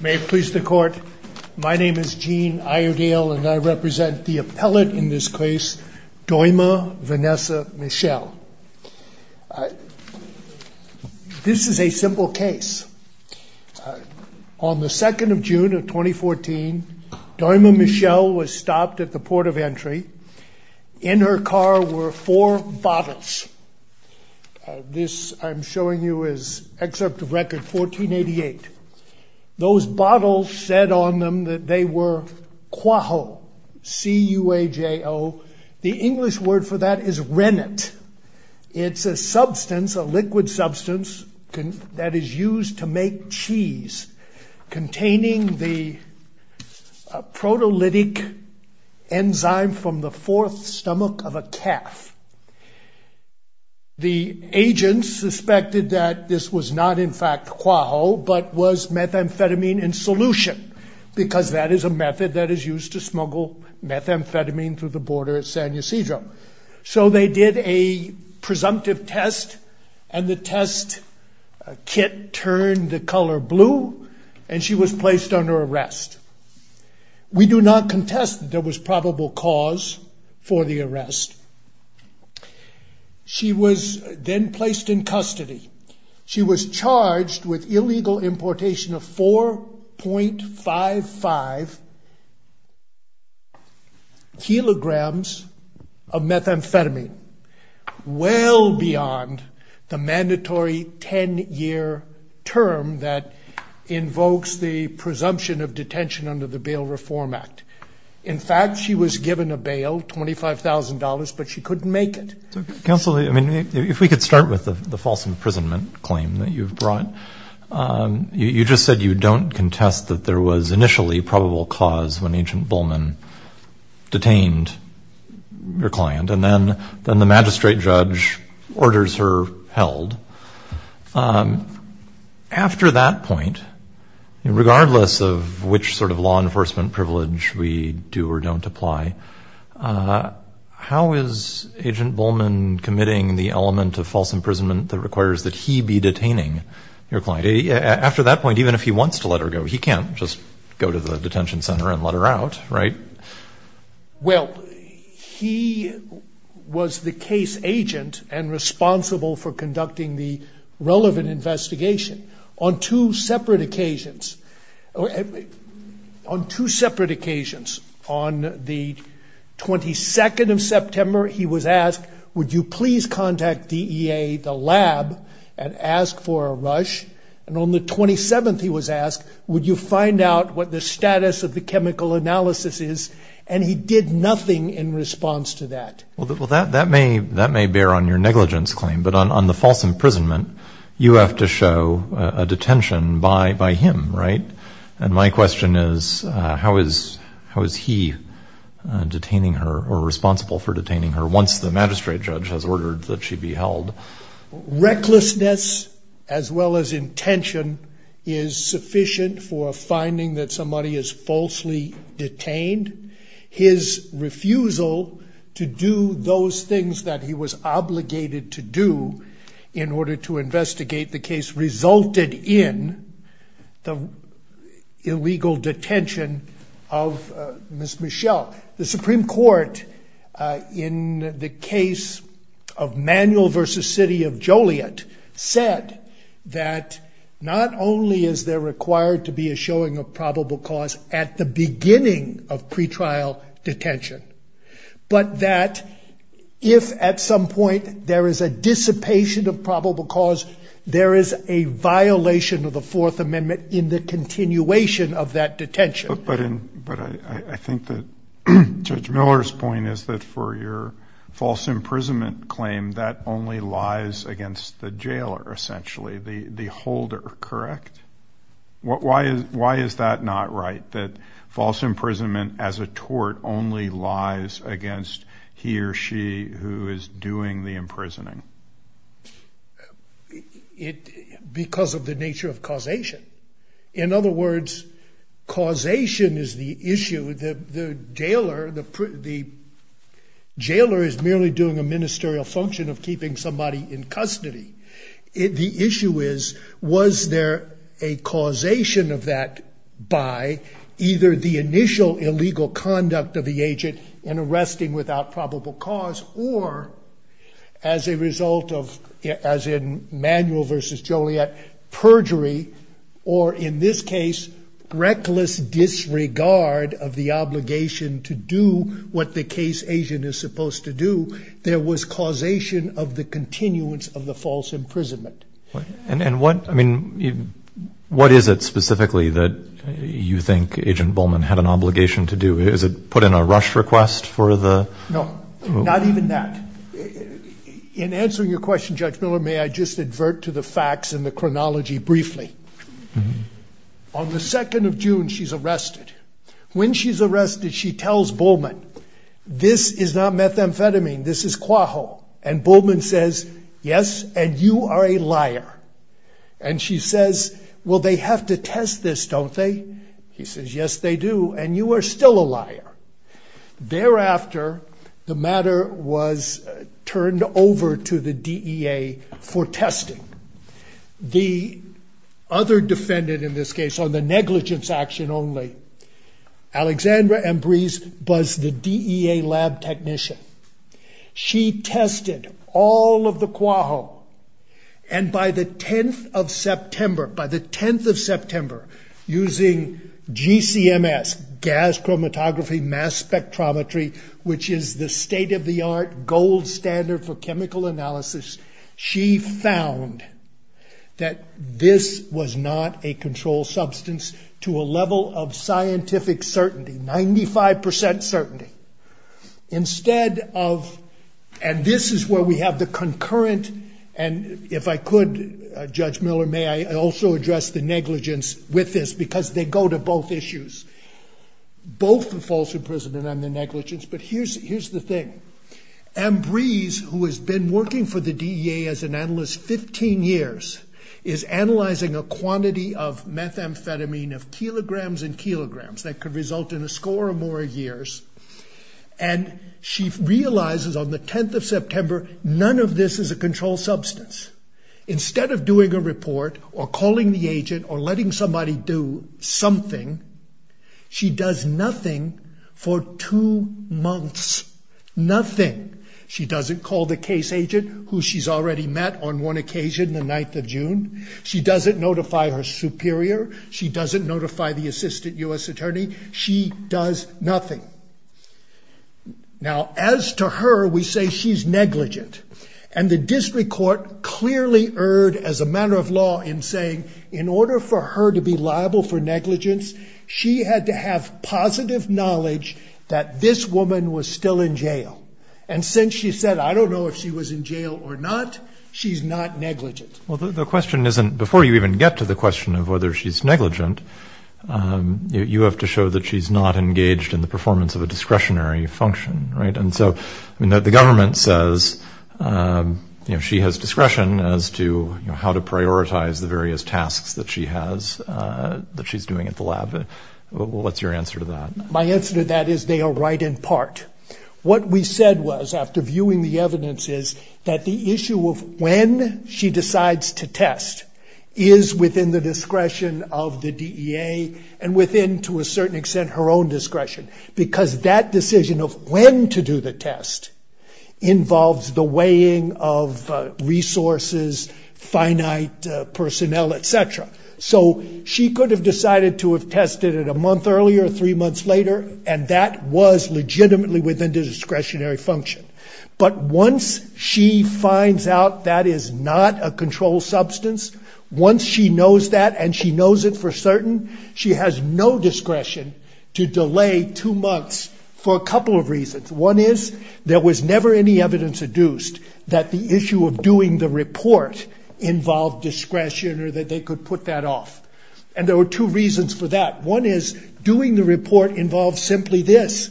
May it please the court, my name is Gene Iredale and I represent the appellate in this case, Doima Vanessa Michel. This is a simple case. On the 2nd of June of 2014, Doima Michel was stopped at the port of entry. In her car were four bottles. This I'm showing you is excerpt of record 1488. Those bottles said on them that they were Quajo, C-U-A-J-O. The English word for that is rennet. It's a substance, a liquid substance that is used to make cheese containing the protolytic enzyme from the fourth stomach of a calf. The agents suspected that this was not in fact Quajo but was methamphetamine in solution because that is a method that is used to smuggle methamphetamine through the border at San Ysidro. So they did a presumptive test and the test kit turned the color blue and she was placed under arrest. We do not She was charged with illegal importation of 4.55 kilograms of methamphetamine, well beyond the mandatory 10-year term that invokes the presumption of detention under the Bail Reform Act. In fact, she was given a bail, $25,000, but she couldn't make it. Counselor, I mean if we could start with the false imprisonment claim that you've brought. You just said you don't contest that there was initially probable cause when Agent Bowman detained your client and then the magistrate judge orders her held. After that point, regardless of which sort of law enforcement privilege we do or don't apply, how is Agent Bowman committing the element of false imprisonment that requires that he be detaining your client? After that point, even if he wants to let her go, he can't just go to the detention center and let her out, right? Well, he was the case agent and On the 22nd of September, he was asked, would you please contact DEA, the lab, and ask for a rush? And on the 27th, he was asked, would you find out what the status of the chemical analysis is? And he did nothing in response to that. Well, that may bear on your negligence claim, but on the false imprisonment, you have to show a detention by him, right? And my question is, how is he detaining her or responsible for detaining her once the magistrate judge has ordered that she be held? Recklessness as well as intention is sufficient for finding that somebody is falsely detained. His refusal to do those things that he was obligated to do in order to The Supreme Court, in the case of Manuel v. City of Joliet, said that not only is there required to be a showing of probable cause at the beginning of pretrial detention, but that if at some point there is a dissipation of probable cause, there is a violation of the Fourth Amendment in the But I think that Judge Miller's point is that for your false imprisonment claim, that only lies against the jailer, essentially, the holder, correct? Why is that not right, that false imprisonment as a tort only lies against he or she who is doing the imprisoning? Because of the nature of causation. In other words, causation is the issue that the jailer, the jailer is merely doing a ministerial function of keeping somebody in custody. The issue is, was there a causation of that by either the initial illegal conduct of the agent in arresting without probable cause, or as a result of, as in Manuel v. Joliet, perjury, or in this case, reckless disregard of the obligation to do what the case agent is supposed to do, there was causation of the continuance of the false imprisonment. And what, I mean, what is it specifically that you think Agent Bowman had an obligation to do? Is it put in a rush request for the... No, not even that. In answering your question, Judge Miller, may I just advert to the facts and the chronology briefly. On the 2nd of June, she's arrested. When she's arrested, she tells Bowman, this is not methamphetamine, this is Quaho. And Bowman says, yes, and you are a liar. And she says, well, they have to test this, don't they? He says, yes, they do. And you are still a liar. Thereafter, the matter was turned over to the DEA for testing. The other defendant in this case, on the negligence action only, Alexandra Ambrise was the DEA lab technician. She tested all of the Quaho. And by the 10th of September, by the 10th of September, using GCMS, gas chromatography mass spectrometry, which is the state of the art gold standard for chemical analysis, she found that this was not a controlled substance to a level of scientific certainty, 95% certainty. Instead of, and this is where we have the concurrent, and if I could, Judge Miller, may I also address the negligence with this, because they go to both issues. Both the false imprisonment and the negligence, but here's the thing. Ambrise, who has been working for the DEA as an analyst 15 years, is analyzing a quantity of methamphetamine of kilograms and kilograms that could result in a score of more years. And she realizes on the 10th of September, none of this is a controlled substance. Instead of doing a report, or calling the agent, or letting somebody do something, she does nothing for two months. Nothing. She doesn't call the case agent, who she's already met on one occasion, the 9th of June. She doesn't notify her superior. She doesn't notify the assistant U.S. attorney. She does nothing. Now, as to her, we say she's negligent. And the district court clearly erred, as a matter of law, in saying in order for her to be liable for negligence, she had to have positive knowledge that this woman was still in jail. And since she said, I don't know if she was in jail or not, she's not negligent. Well, the question isn't, before you even get to the question of whether she's negligent, you have to show that she's not engaged in the performance of a discretionary function, right? And so, I mean, the government says, you know, she has discretion as to, you know, how to prioritize the various tasks that she has, that she's doing at the lab. What's your answer to that? My answer to that is they are right in part. What we said was, after viewing the evidence, is that issue of when she decides to test is within the discretion of the DEA and within, to a certain extent, her own discretion, because that decision of when to do the test involves the weighing of resources, finite personnel, et cetera. So she could have decided to have tested it a month earlier, three months later, and that was legitimately within the discretionary function. But once she finds out that is not a control substance, once she knows that and she knows it for certain, she has no discretion to delay two months for a couple of reasons. One is, there was never any evidence adduced that the issue of doing the report involved discretion or that they could put that off. And there were two reasons for that. One is, doing the report involves simply this.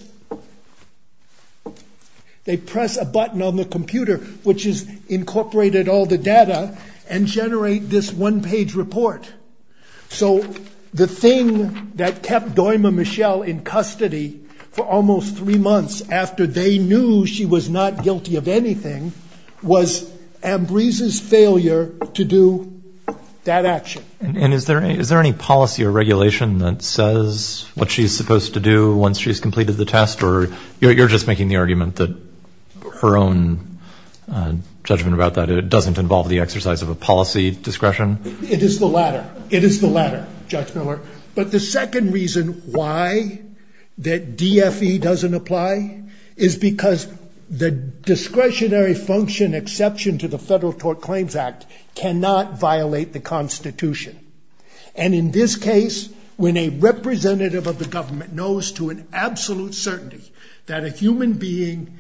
They press a button on the computer, which has incorporated all the data, and generate this one-page report. So the thing that kept Doima Michelle in custody for almost three months after they knew she was not guilty of anything, was Ambrise's failure to do that action. And is there any policy or regulation that says what she's supposed to do once she's completed the test? Or you're just making the argument that her own judgment about that doesn't involve the exercise of a policy discretion? It is the latter. It is the latter, Judge Miller. But the second reason why that DFE doesn't apply is because the discretionary function exception to the Federal Tort Claims Act cannot violate the Constitution. And in this case, when a representative of the government knows to an absolute certainty that a human being,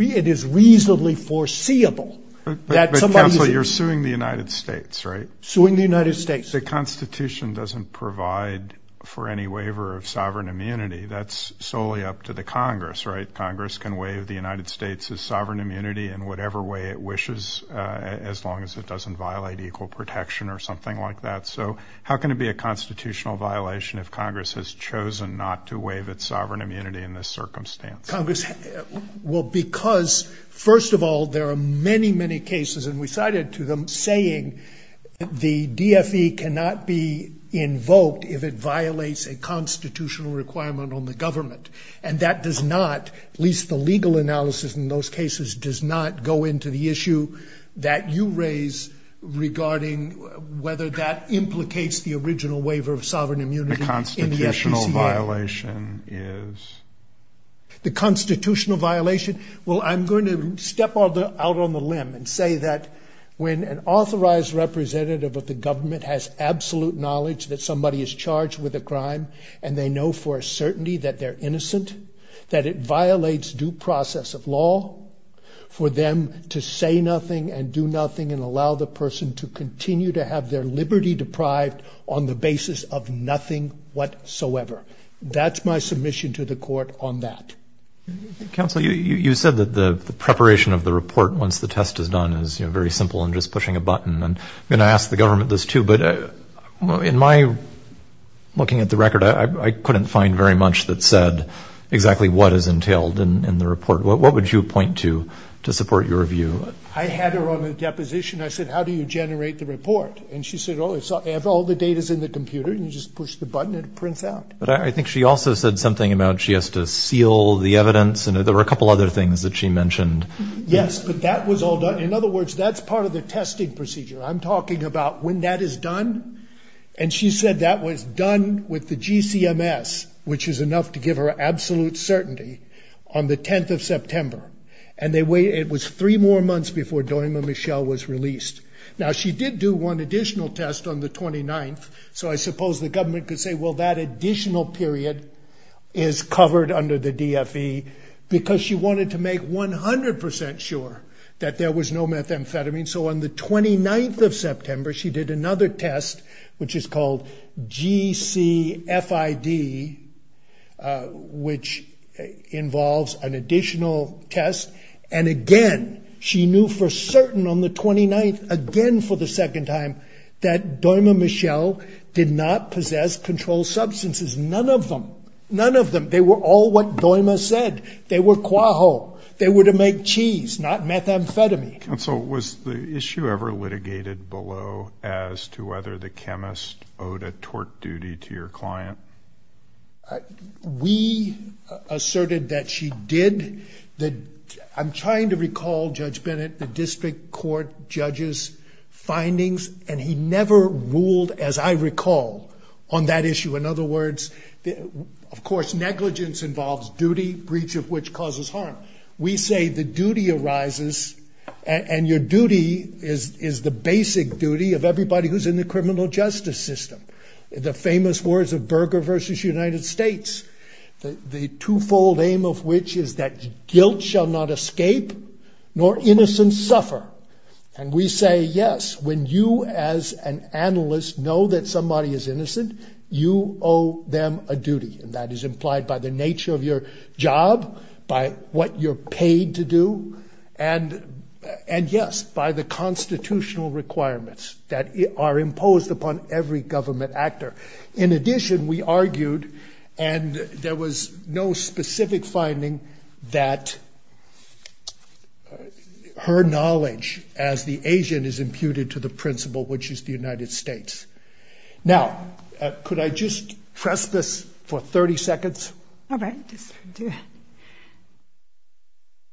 it is reasonably foreseeable that somebody is... But counsel, you're suing the United States, right? Suing the United States. The Constitution doesn't provide for any waiver of sovereign immunity. That's solely up to the Congress, right? Congress can waive the United States's sovereign immunity in whatever way it doesn't violate equal protection or something like that. So how can it be a constitutional violation if Congress has chosen not to waive its sovereign immunity in this circumstance? Congress... Well, because, first of all, there are many, many cases, and we cited to them, saying the DFE cannot be invoked if it violates a constitutional requirement on the government. And that does not, at least the legal analysis in those cases, does not go into the issue that you raise regarding whether that implicates the original waiver of sovereign immunity. The constitutional violation is... The constitutional violation. Well, I'm going to step out on the limb and say that when an authorized representative of the government has absolute knowledge that somebody is charged with a crime, and they know for a certainty that they're innocent, that it violates due process of law for them to say nothing and do nothing and allow the person to continue to have their liberty deprived on the basis of nothing whatsoever. That's my submission to the court on that. Counsel, you said that the preparation of the report, once the test is done, is very simple and just pushing a button. And I'm going to ask the government this too, but in my looking at the record, I couldn't find very much that said exactly what is to support your view. I had her on a deposition. I said, how do you generate the report? And she said, oh, it's all the data's in the computer and you just push the button and it prints out. But I think she also said something about she has to seal the evidence. And there were a couple other things that she mentioned. Yes, but that was all done. In other words, that's part of the testing procedure. I'm talking about when that is done. And she said that was done with the GCMS, which is enough to give her absolute certainty, on the 10th of September. And it was three more months before Domingo Michel was released. Now, she did do one additional test on the 29th. So I suppose the government could say, well, that additional period is covered under the DFE because she wanted to make 100% sure that there was no methamphetamine. So on the 29th of September, she did do the DFE, which involves an additional test. And again, she knew for certain on the 29th, again, for the second time, that Domingo Michel did not possess controlled substances. None of them. None of them. They were all what Domingo said. They were Quahog. They were to make cheese, not methamphetamine. Counsel, was the issue ever litigated below as to whether the we asserted that she did that. I'm trying to recall Judge Bennett, the district court judges findings, and he never ruled, as I recall, on that issue. In other words, of course, negligence involves duty, breach of which causes harm. We say the duty arises and your duty is the basic duty of everybody who's in the criminal justice system. The famous words of Berger versus United States, the twofold aim of which is that guilt shall not escape nor innocence suffer. And we say, yes, when you as an analyst know that somebody is innocent, you owe them a duty. And that is implied by the nature of your job, by what you're paid to do. And yes, by the constitutional requirements that are imposed upon every government actor. In addition, we argued, and there was no specific finding that her knowledge as the Asian is imputed to the principle, which is the United States. Now, could I just press this for 30 seconds? All right.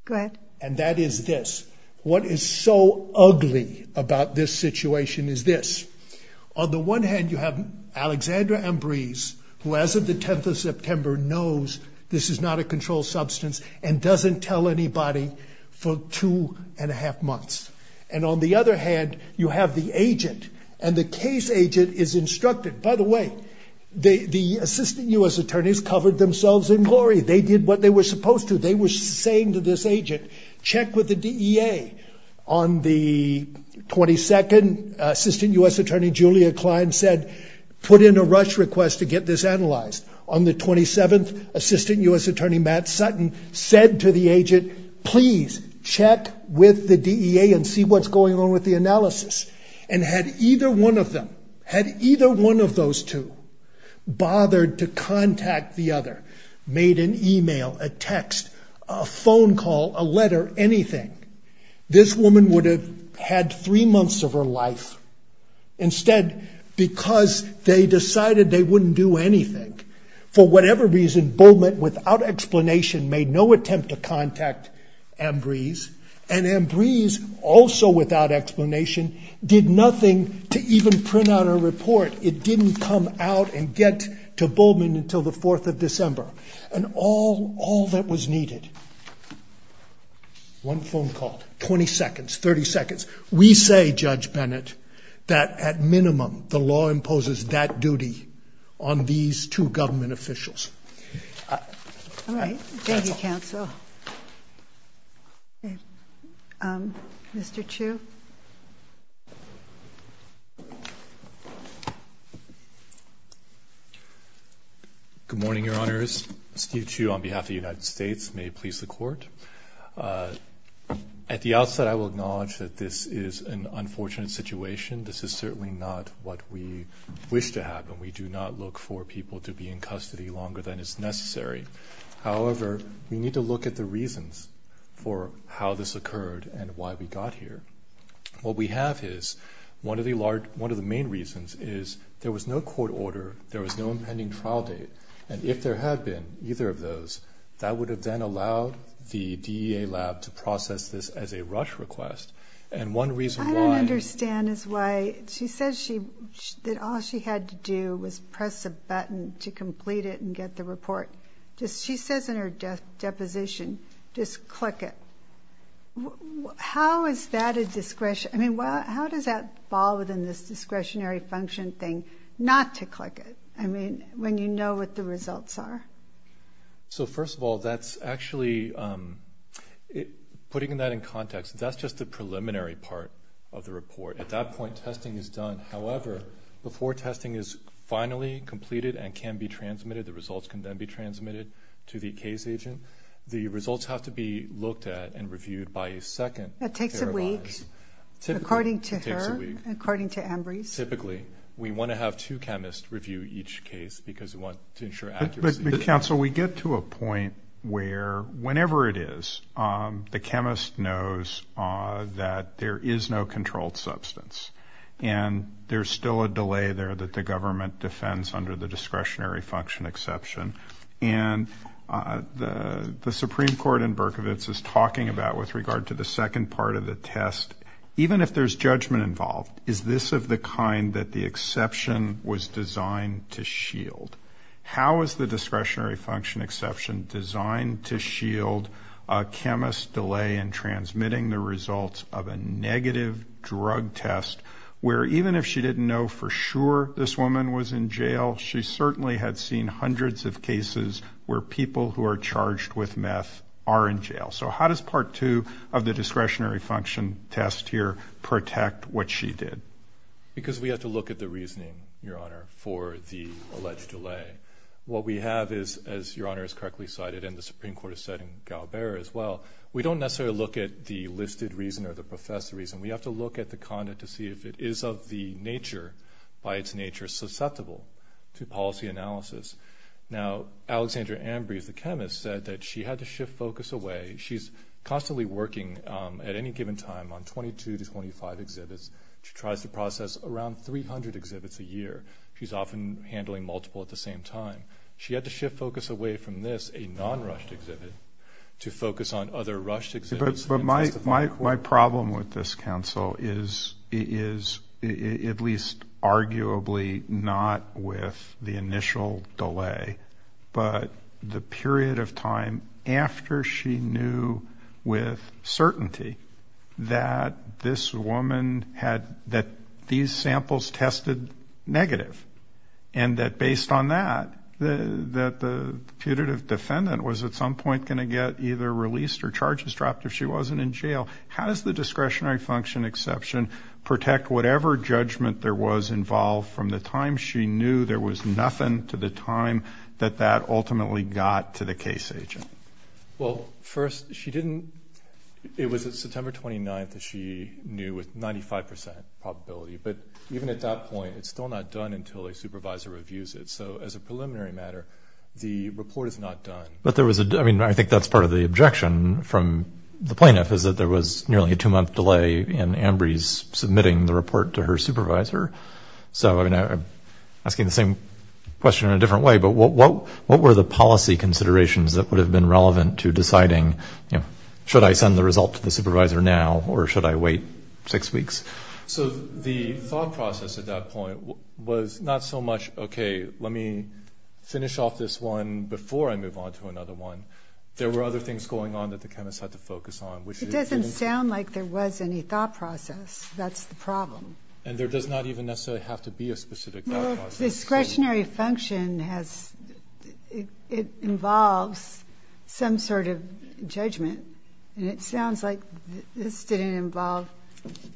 Go ahead. And that is this. What is so ugly about this situation is this. On the one hand, you have Alexandra Ambrise, who as of the 10th of September knows this is not a controlled substance and doesn't tell anybody for two and a half months. And on the other hand, you have the agent and the case agent is instructed. By the way, the assistant U.S. attorneys covered themselves in glory. They did what they were supposed to. They were saying to this agent, check with the DEA. On the 22nd, Assistant U.S. Attorney Julia Klein said, put in a rush request to get this analyzed. On the 27th, Assistant U.S. Attorney Matt Sutton said to the agent, please check with the DEA and see what's going on with the analysis. And had either one of them, had either one of made an email, a text, a phone call, a letter, anything, this woman would have had three months of her life instead because they decided they wouldn't do anything. For whatever reason, Bowman, without explanation, made no attempt to contact Ambrise. And Ambrise, also without explanation, did nothing to even print out a report. It didn't come out and get to Bowman until the 4th of December. And all, all that was needed, one phone call, 20 seconds, 30 seconds. We say, Judge Bennett, that at minimum, the law imposes that duty on these two government officials. All right. Thank you, counsel. Mr. Chiu. Good morning, Your Honors. Steve Chiu on behalf of the United States. May it please the Court. At the outset, I will acknowledge that this is an unfortunate situation. This is certainly not what we wish to happen. We do not look for people to be in custody longer than is necessary. However, we need to look at the reasons for how this occurred and why we got here. What we have is, one of the large, one of the main reasons is there was no court order, there was no impending trial date. And if there had been either of those, that would have then allowed the DEA lab to process this as a rush request. And one reason why- I don't understand is why she says she, that all she had to do was press a button to complete it and get the report. Just, she says in her deposition, just click it. How is that a discretion? I mean, how does that fall within this discretionary function thing, not to click it? I mean, when you know what the results are? So first of all, that's actually, um, putting that in context, that's just the preliminary part of the report. At that point, testing is done. However, before testing is finally completed and can be transmitted, the results can then be transmitted to the case agent. The results have to be looked at and reviewed by a second- That takes a week, according to her, according to Ambrose. Typically, we want to have two chemists review each case because we want to ensure accuracy. But counsel, we get to a point where, however it is, the chemist knows that there is no controlled substance. And there's still a delay there that the government defends under the discretionary function exception. And the Supreme Court in Berkovitz is talking about, with regard to the second part of the test, even if there's judgment involved, is this of the kind that the exception was designed to shield? How is the discretionary function exception designed to shield a chemist delay in transmitting the results of a negative drug test, where even if she didn't know for sure this woman was in jail, she certainly had seen hundreds of cases where people who are charged with meth are in jail? So how does part two of the discretionary function test here protect what she did? Because we have to look at the reasoning, Your Honor, for the alleged delay. What we have is, as Your Honor has correctly cited, and the Supreme Court has said in Galbera as well, we don't necessarily look at the listed reason or the professor reason. We have to look at the content to see if it is of the nature, by its nature, susceptible to policy analysis. Now, Alexandra Ambrose, the chemist, said that she had to shift focus away. She's constantly working at any given time on 22 to 25 exhibits. She tries to process around 300 exhibits a year. She's often handling multiple at the same time. She had to shift focus away from this, a non-rushed exhibit, to focus on other rushed exhibits. But my problem with this counsel is, at least certainty, that this woman had, that these samples tested negative. And that based on that, that the putative defendant was at some point going to get either released or charges dropped if she wasn't in jail. How does the discretionary function exception protect whatever judgment there was involved from the time she knew there was nothing to the time that that ultimately got to the case agent? Well, first, she didn't, it was at September 29th that she knew with 95% probability. But even at that point, it's still not done until a supervisor reviews it. So, as a preliminary matter, the report is not done. But there was a, I mean, I think that's part of the objection from the plaintiff, is that there was nearly a two-month delay in Ambrose submitting the report to her supervisor. So, I mean, I'm asking the same question in a different way, but what were the policy considerations that would have been relevant to deciding, you know, should I send the result to the supervisor now, or should I wait six weeks? So, the thought process at that point was not so much, okay, let me finish off this one before I move on to another one. There were other things going on that the chemist had to focus on. It doesn't sound like there was any thought process. That's the problem. And there does not even necessarily have to be a specific thought process. Discretionary function has, it involves some sort of judgment. And it sounds like this didn't involve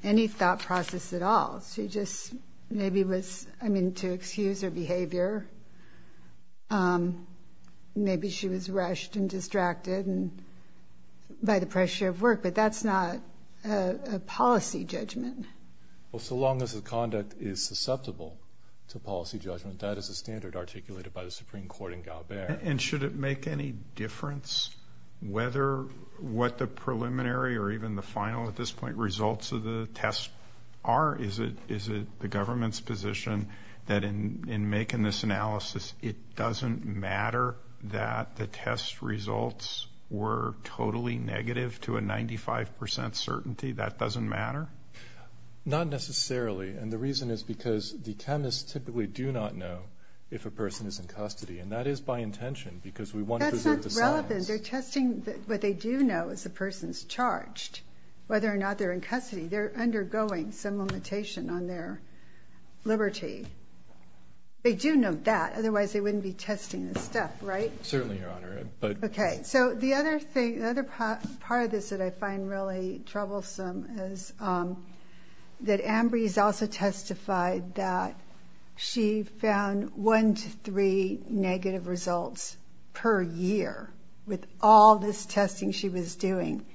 any thought process at all. She just maybe was, I mean, to excuse her behavior. Maybe she was rushed and distracted by the pressure of work, but that's not a policy judgment. Well, so long as the conduct is susceptible to policy judgment, that is a standard articulated by the Supreme Court in Galbert. And should it make any difference whether what the preliminary or even the final, at this point, results of the test are? Is it the government's position that in making this analysis, it doesn't matter that the test results were not necessarily? And the reason is because the chemists typically do not know if a person is in custody. And that is by intention, because we want to preserve the science. That's not relevant. They're testing, what they do know is the person's charged, whether or not they're in custody. They're undergoing some limitation on their liberty. They do know that, otherwise they wouldn't be testing this stuff, right? Certainly, Your Honor. Okay. So the other thing, the other part of this that I find really troublesome is that Ambrose also testified that she found one to three negative results per year with all this testing she was doing,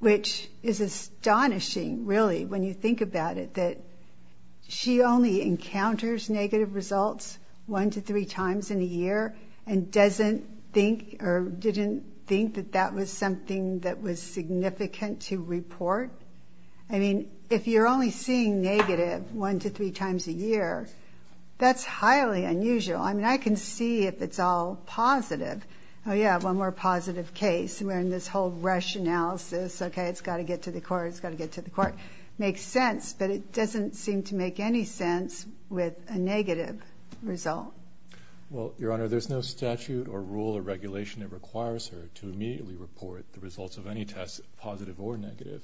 which is astonishing, really, when you think about it, that she only encounters negative results one to three times in a year and doesn't think or didn't think that that was something that was significant to report. I mean, if you're only seeing negative one to three times a year, that's highly unusual. I mean, I can see if it's all positive. Oh yeah, one more positive case. We're in this whole rush analysis. Okay. It's got to get to the court. It's doesn't seem to make any sense with a negative result. Well, Your Honor, there's no statute or rule or regulation that requires her to immediately report the results of any test, positive or negative.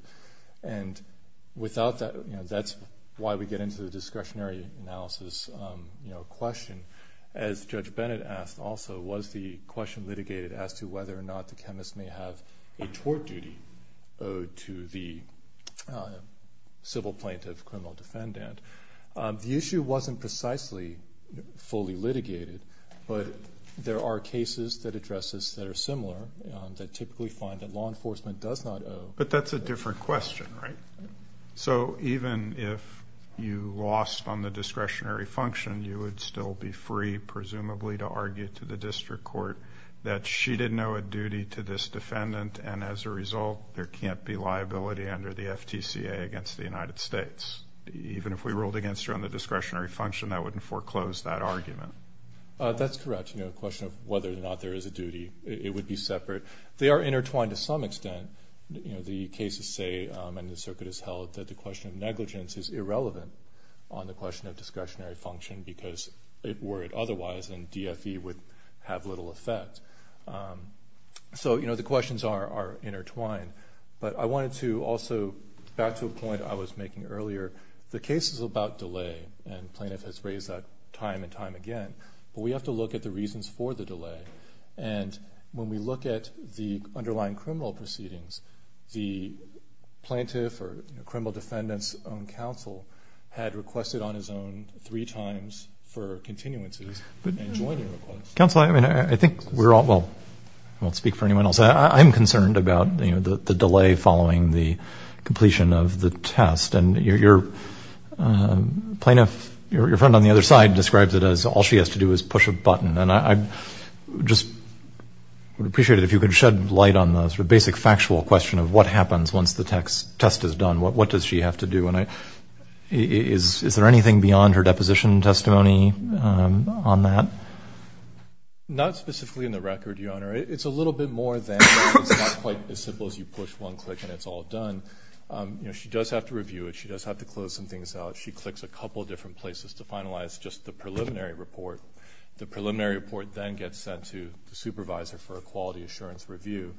And without that, you know, that's why we get into the discretionary analysis question. As Judge Bennett asked also, was the question litigated as to whether or not the chemist may have a tort duty owed to the civil plaintiff criminal defendant. The issue wasn't precisely fully litigated, but there are cases that address this that are similar that typically find that law enforcement does not owe. But that's a different question, right? So even if you lost on the discretionary function, you would still be free, presumably, to argue to the district court that she didn't owe a duty to this defendant. And as a result, there can't be liability under the FTCA against the United States. Even if we ruled against her on the discretionary function, I wouldn't foreclose that argument. That's correct. You know, the question of whether or not there is a duty, it would be separate. They are intertwined to some extent. You know, the cases say, and the circuit has held that the question of negligence is irrelevant on the question of discretionary function because if were it otherwise, then DFE would have little effect. So, you know, the questions are intertwined. But I wanted to also back to a point I was making earlier. The case is about delay, and plaintiff has raised that time and time again. But we have to look at the reasons for the delay. And when we look at the underlying criminal proceedings, the plaintiff or criminal defendant's own counsel had requested on his own three times for continuances and joining requests. Counsel, I mean, I think we're all, well, I won't speak for anyone else. I'm concerned about the delay following the completion of the test. And your plaintiff, your friend on the other side describes it as all she has to do is push a button. And I just would appreciate it if you could shed light on the sort of basic factual question of what happens once the test is done. What does she have to do? And is there anything beyond her deposition testimony on that? Not specifically in the record, Your Honor. It's a little bit more than that. It's not quite as simple as you push one click and it's all done. You know, she does have to review it. She does have to close some things out. She clicks a couple of different places to finalize just the preliminary report. The preliminary report then gets sent to the supervisor for a quality assurance review.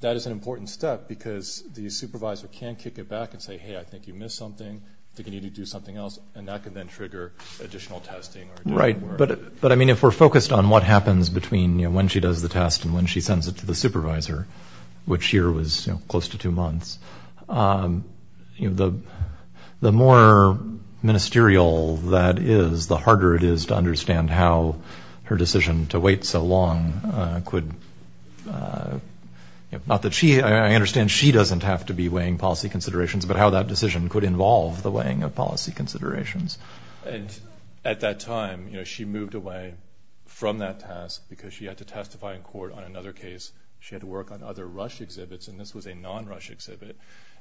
That is an important step because the supervisor can kick it back and say, hey, I think you missed something, I think you need to do something else. And that can then trigger additional testing. Right. But I mean, if we're focused on what happens between when she does the test and when she sends it to the supervisor, which here was close to two months, the more ministerial that is, the harder it is to understand how her decision to wait so long could, not that she, I understand she doesn't have to be weighing policy considerations, but how that decision could involve the weighing of policy considerations. And at that time, you know, she moved away from that task because she had to testify in court on another case. She had to work on other rush exhibits and this was a non-rush exhibit.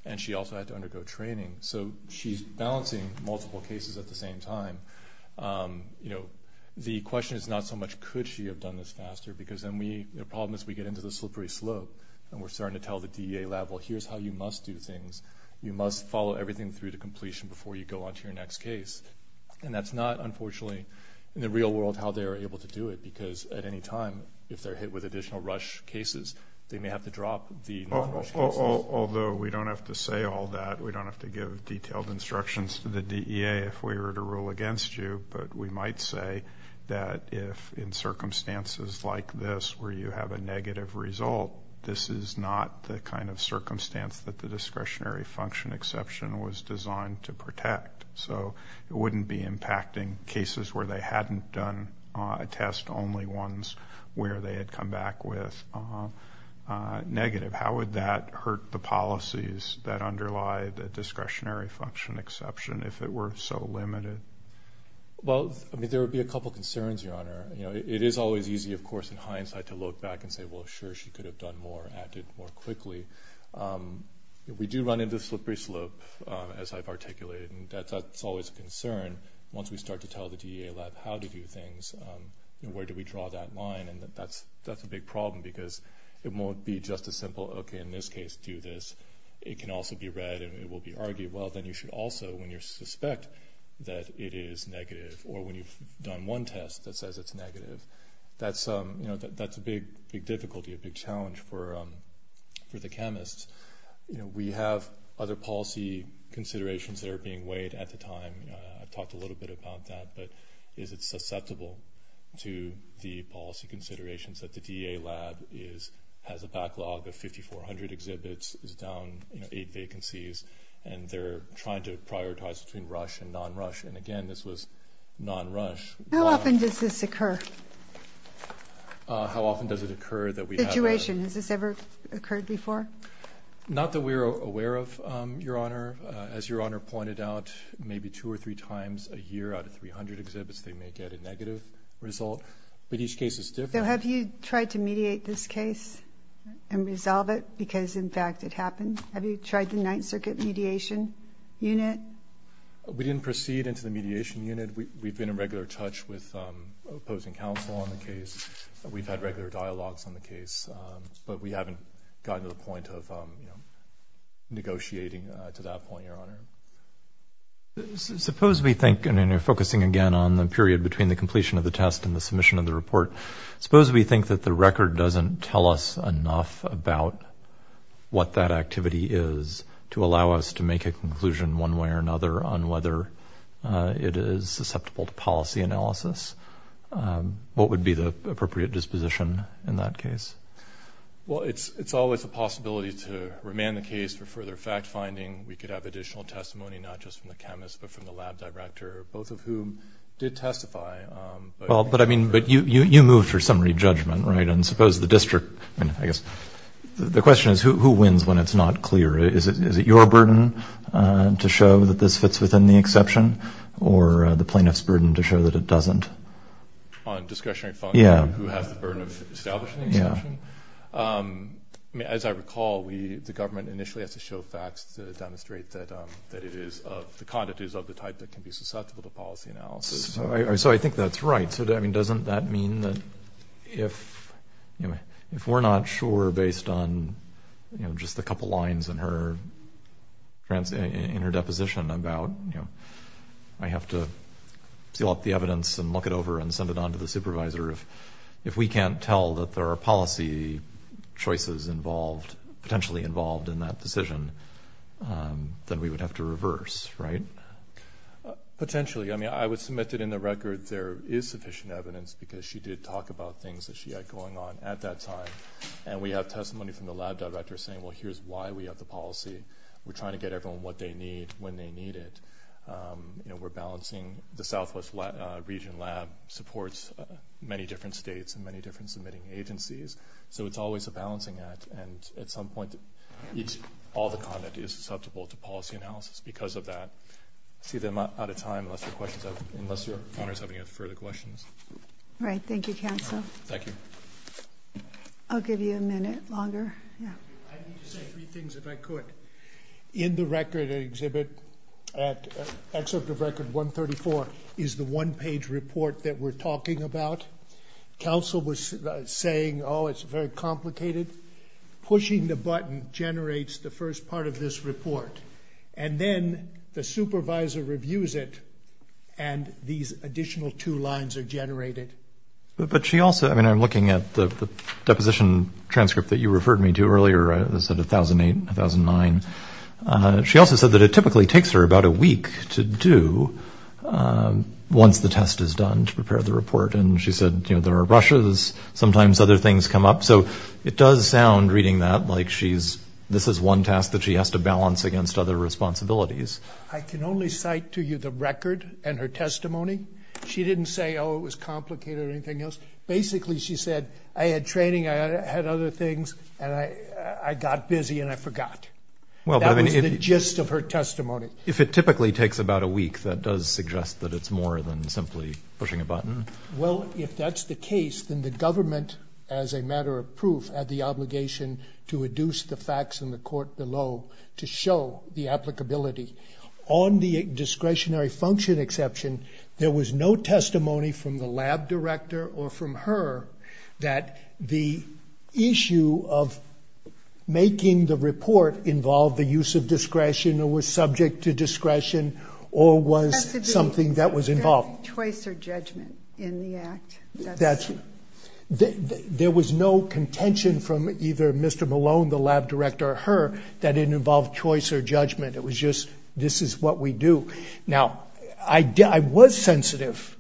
And she also had to undergo training. So she's balancing multiple cases at the same time. You know, the question is not so much, could she have done this faster? Because then we, the problem is we get into the slippery slope and we're starting to tell the DEA level, here's how you must do things. You must follow everything through to completion before you go onto your next case. And that's not unfortunately, in the real world, how they are able to do it, because at any time, if they're hit with additional rush cases, they may have to drop the non-rush cases. Although we don't have to say all that, we don't have to give detailed instructions to the DEA if we were to rule against you. But we might say that if in circumstances like this where you have a negative result, this is not the kind of circumstance that the discretionary function exception was designed to protect. So it wouldn't be impacting cases where they hadn't done a test, only ones where they had come back with negative. How would that hurt the policies that underlie the discretionary function exception if it were so limited? Well, I mean, there would be a couple of concerns, Your Honor. It is always easy, of course, in hindsight to look back and say, well, sure, she could have done more, acted more quickly. We do run into the slippery slope as I've articulated, and that's always a concern. Once we start to tell the DEA lab how to do things, where do we draw that line? And that's a big problem because it won't be just a simple, okay, in this case, do this. It can also be read and it will be argued, well, then you should also, when you suspect that it is negative, or when you've done one test that says it's negative, that's a big difficulty, a big challenge for the chemists. We have other policy considerations that are being weighed at the time. I've talked a little bit about that, but is it susceptible to the policy considerations that the DEA lab has a backlog of 5,400 exhibits, is down eight vacancies, and they're trying to prioritize between rush and non-rush. And again, this was non-rush. How often does this occur? How often does it occur that we have a... Situation. Has this ever occurred before? Not that we're aware of, Your Honor. As Your Honor pointed out, maybe two or three times a year out of 300 exhibits, they may get a negative result, but each case is different. So have you tried to mediate this case and resolve it because, in fact, it happened? Have you tried the Ninth Circuit Mediation Unit? We didn't proceed into the Mediation Unit. We've been in regular touch with opposing counsel on the case. We've had regular dialogues on the case, but we haven't gotten to the point of negotiating to that point, Your Honor. Okay. Suppose we think, and then you're focusing again on the period between the completion of the test and the submission of the report, suppose we think that the record doesn't tell us enough about what that activity is to allow us to make a conclusion one way or another on whether it is susceptible to policy analysis. What would be the appropriate disposition in that case? Well, it's always a possibility to remand the case for further fact-finding. We could have testimony not just from the chemist, but from the lab director, both of whom did testify. Well, but I mean, you moved for summary judgment, right? And suppose the district, I guess, the question is, who wins when it's not clear? Is it your burden to show that this fits within the exception, or the plaintiff's burden to show that it doesn't? On discretionary function, who has the burden of establishing the exception? I mean, as I recall, the government initially has to show facts to demonstrate that it is of, the conduct is of the type that can be susceptible to policy analysis. So I think that's right. So, I mean, doesn't that mean that if we're not sure based on, you know, just a couple lines in her deposition about, you know, I have to seal up the evidence and look it over and send it on to the supervisor. If we can't tell that there are policy choices involved, potentially involved in that decision, then we would have to reverse, right? Potentially. I mean, I would submit that in the record, there is sufficient evidence because she did talk about things that she had going on at that time. And we have testimony from the lab director saying, well, here's why we have the policy. We're trying to get everyone what they need when they need it. You know, we're balancing the Southwest region lab supports many different states and many different submitting agencies. So it's always a balancing act. And at some point, all the content is susceptible to policy analysis because of that. See them out of time, unless your questions, unless your honors have any further questions. Right. Thank you, counsel. Thank you. I'll give you a minute longer. Yeah. I need to say three things if I could. In the record exhibit, at excerpt of record 134 is the one page report that we're talking about. Counsel was saying, oh, it's very complicated. Pushing the button generates the first part of this report. And then the supervisor reviews it and these additional two lines are generated. But she also, I mean, I'm looking at the deposition transcript that you referred me to earlier, said a thousand eight thousand nine. She also said that it typically takes her about a week to do once the test is done to prepare the report. And she said there are rushes, sometimes other things come up. So it does sound reading that like she's this is one task that she has to balance against other responsibilities. I can only cite to you the record and her testimony. She didn't say, oh, it was complicated or anything else. Basically, she said I had training. I had other things. And I got busy and I forgot. Well, that was the gist of her testimony. If it typically takes about a week, that does suggest that it's more than simply pushing a button. Well, if that's the case, then the government, as a matter of proof, had the obligation to reduce the facts in the court below to show the applicability on the discretionary function exception. There was no testimony from the lab director or from her that the issue of making the report involved the use of discretion or was subject to discretion or was something that was involved. Choice or judgment in the act. There was no contention from either Mr. Malone, the lab director or her that it involved choice or judgment. It was just this is what we do. Now, I was sensitive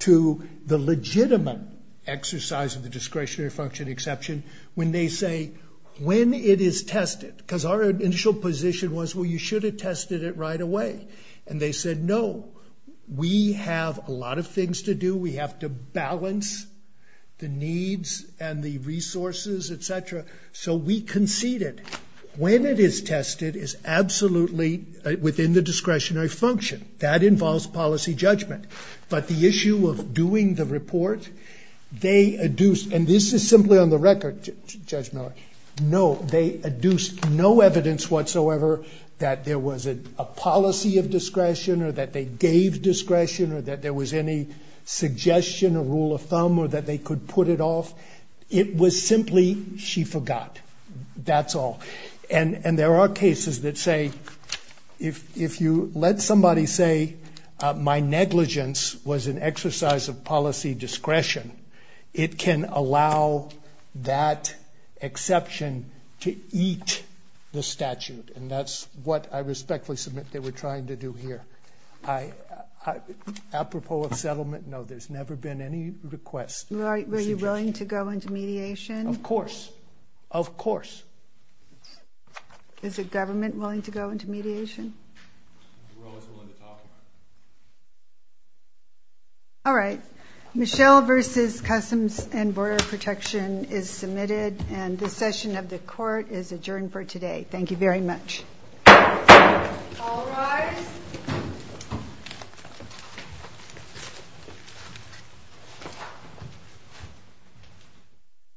to the legitimate exercise of the discretionary function exception when they say when it is tested, because our initial position was, well, you should have tested it right away. And they said, no, we have a lot of things to do. We have to balance the needs and the resources, et cetera. So we conceded when it is tested is absolutely within the discretionary function. That involves policy judgment. But the issue of doing the report, they adduced, and this is simply on the record, Judge Miller, no, they adduced no evidence whatsoever that there was a policy of discretion or that they gave discretion or that there was any suggestion or rule of thumb or that they could put it off. It was simply she forgot. That's all. And there are cases that say, if you let somebody say my negligence was an exercise of policy discretion, it can allow that exception to eat the statute. And that's what I respectfully submit they were trying to do here. I apropos of settlement, no, there's never been any request. Were you willing to go into mediation? Of course. Of course. Is the government willing to go into mediation? All right. Michelle versus Customs and Border Protection is submitted and the session of the court is adjourned for today. Thank you very much. All rise.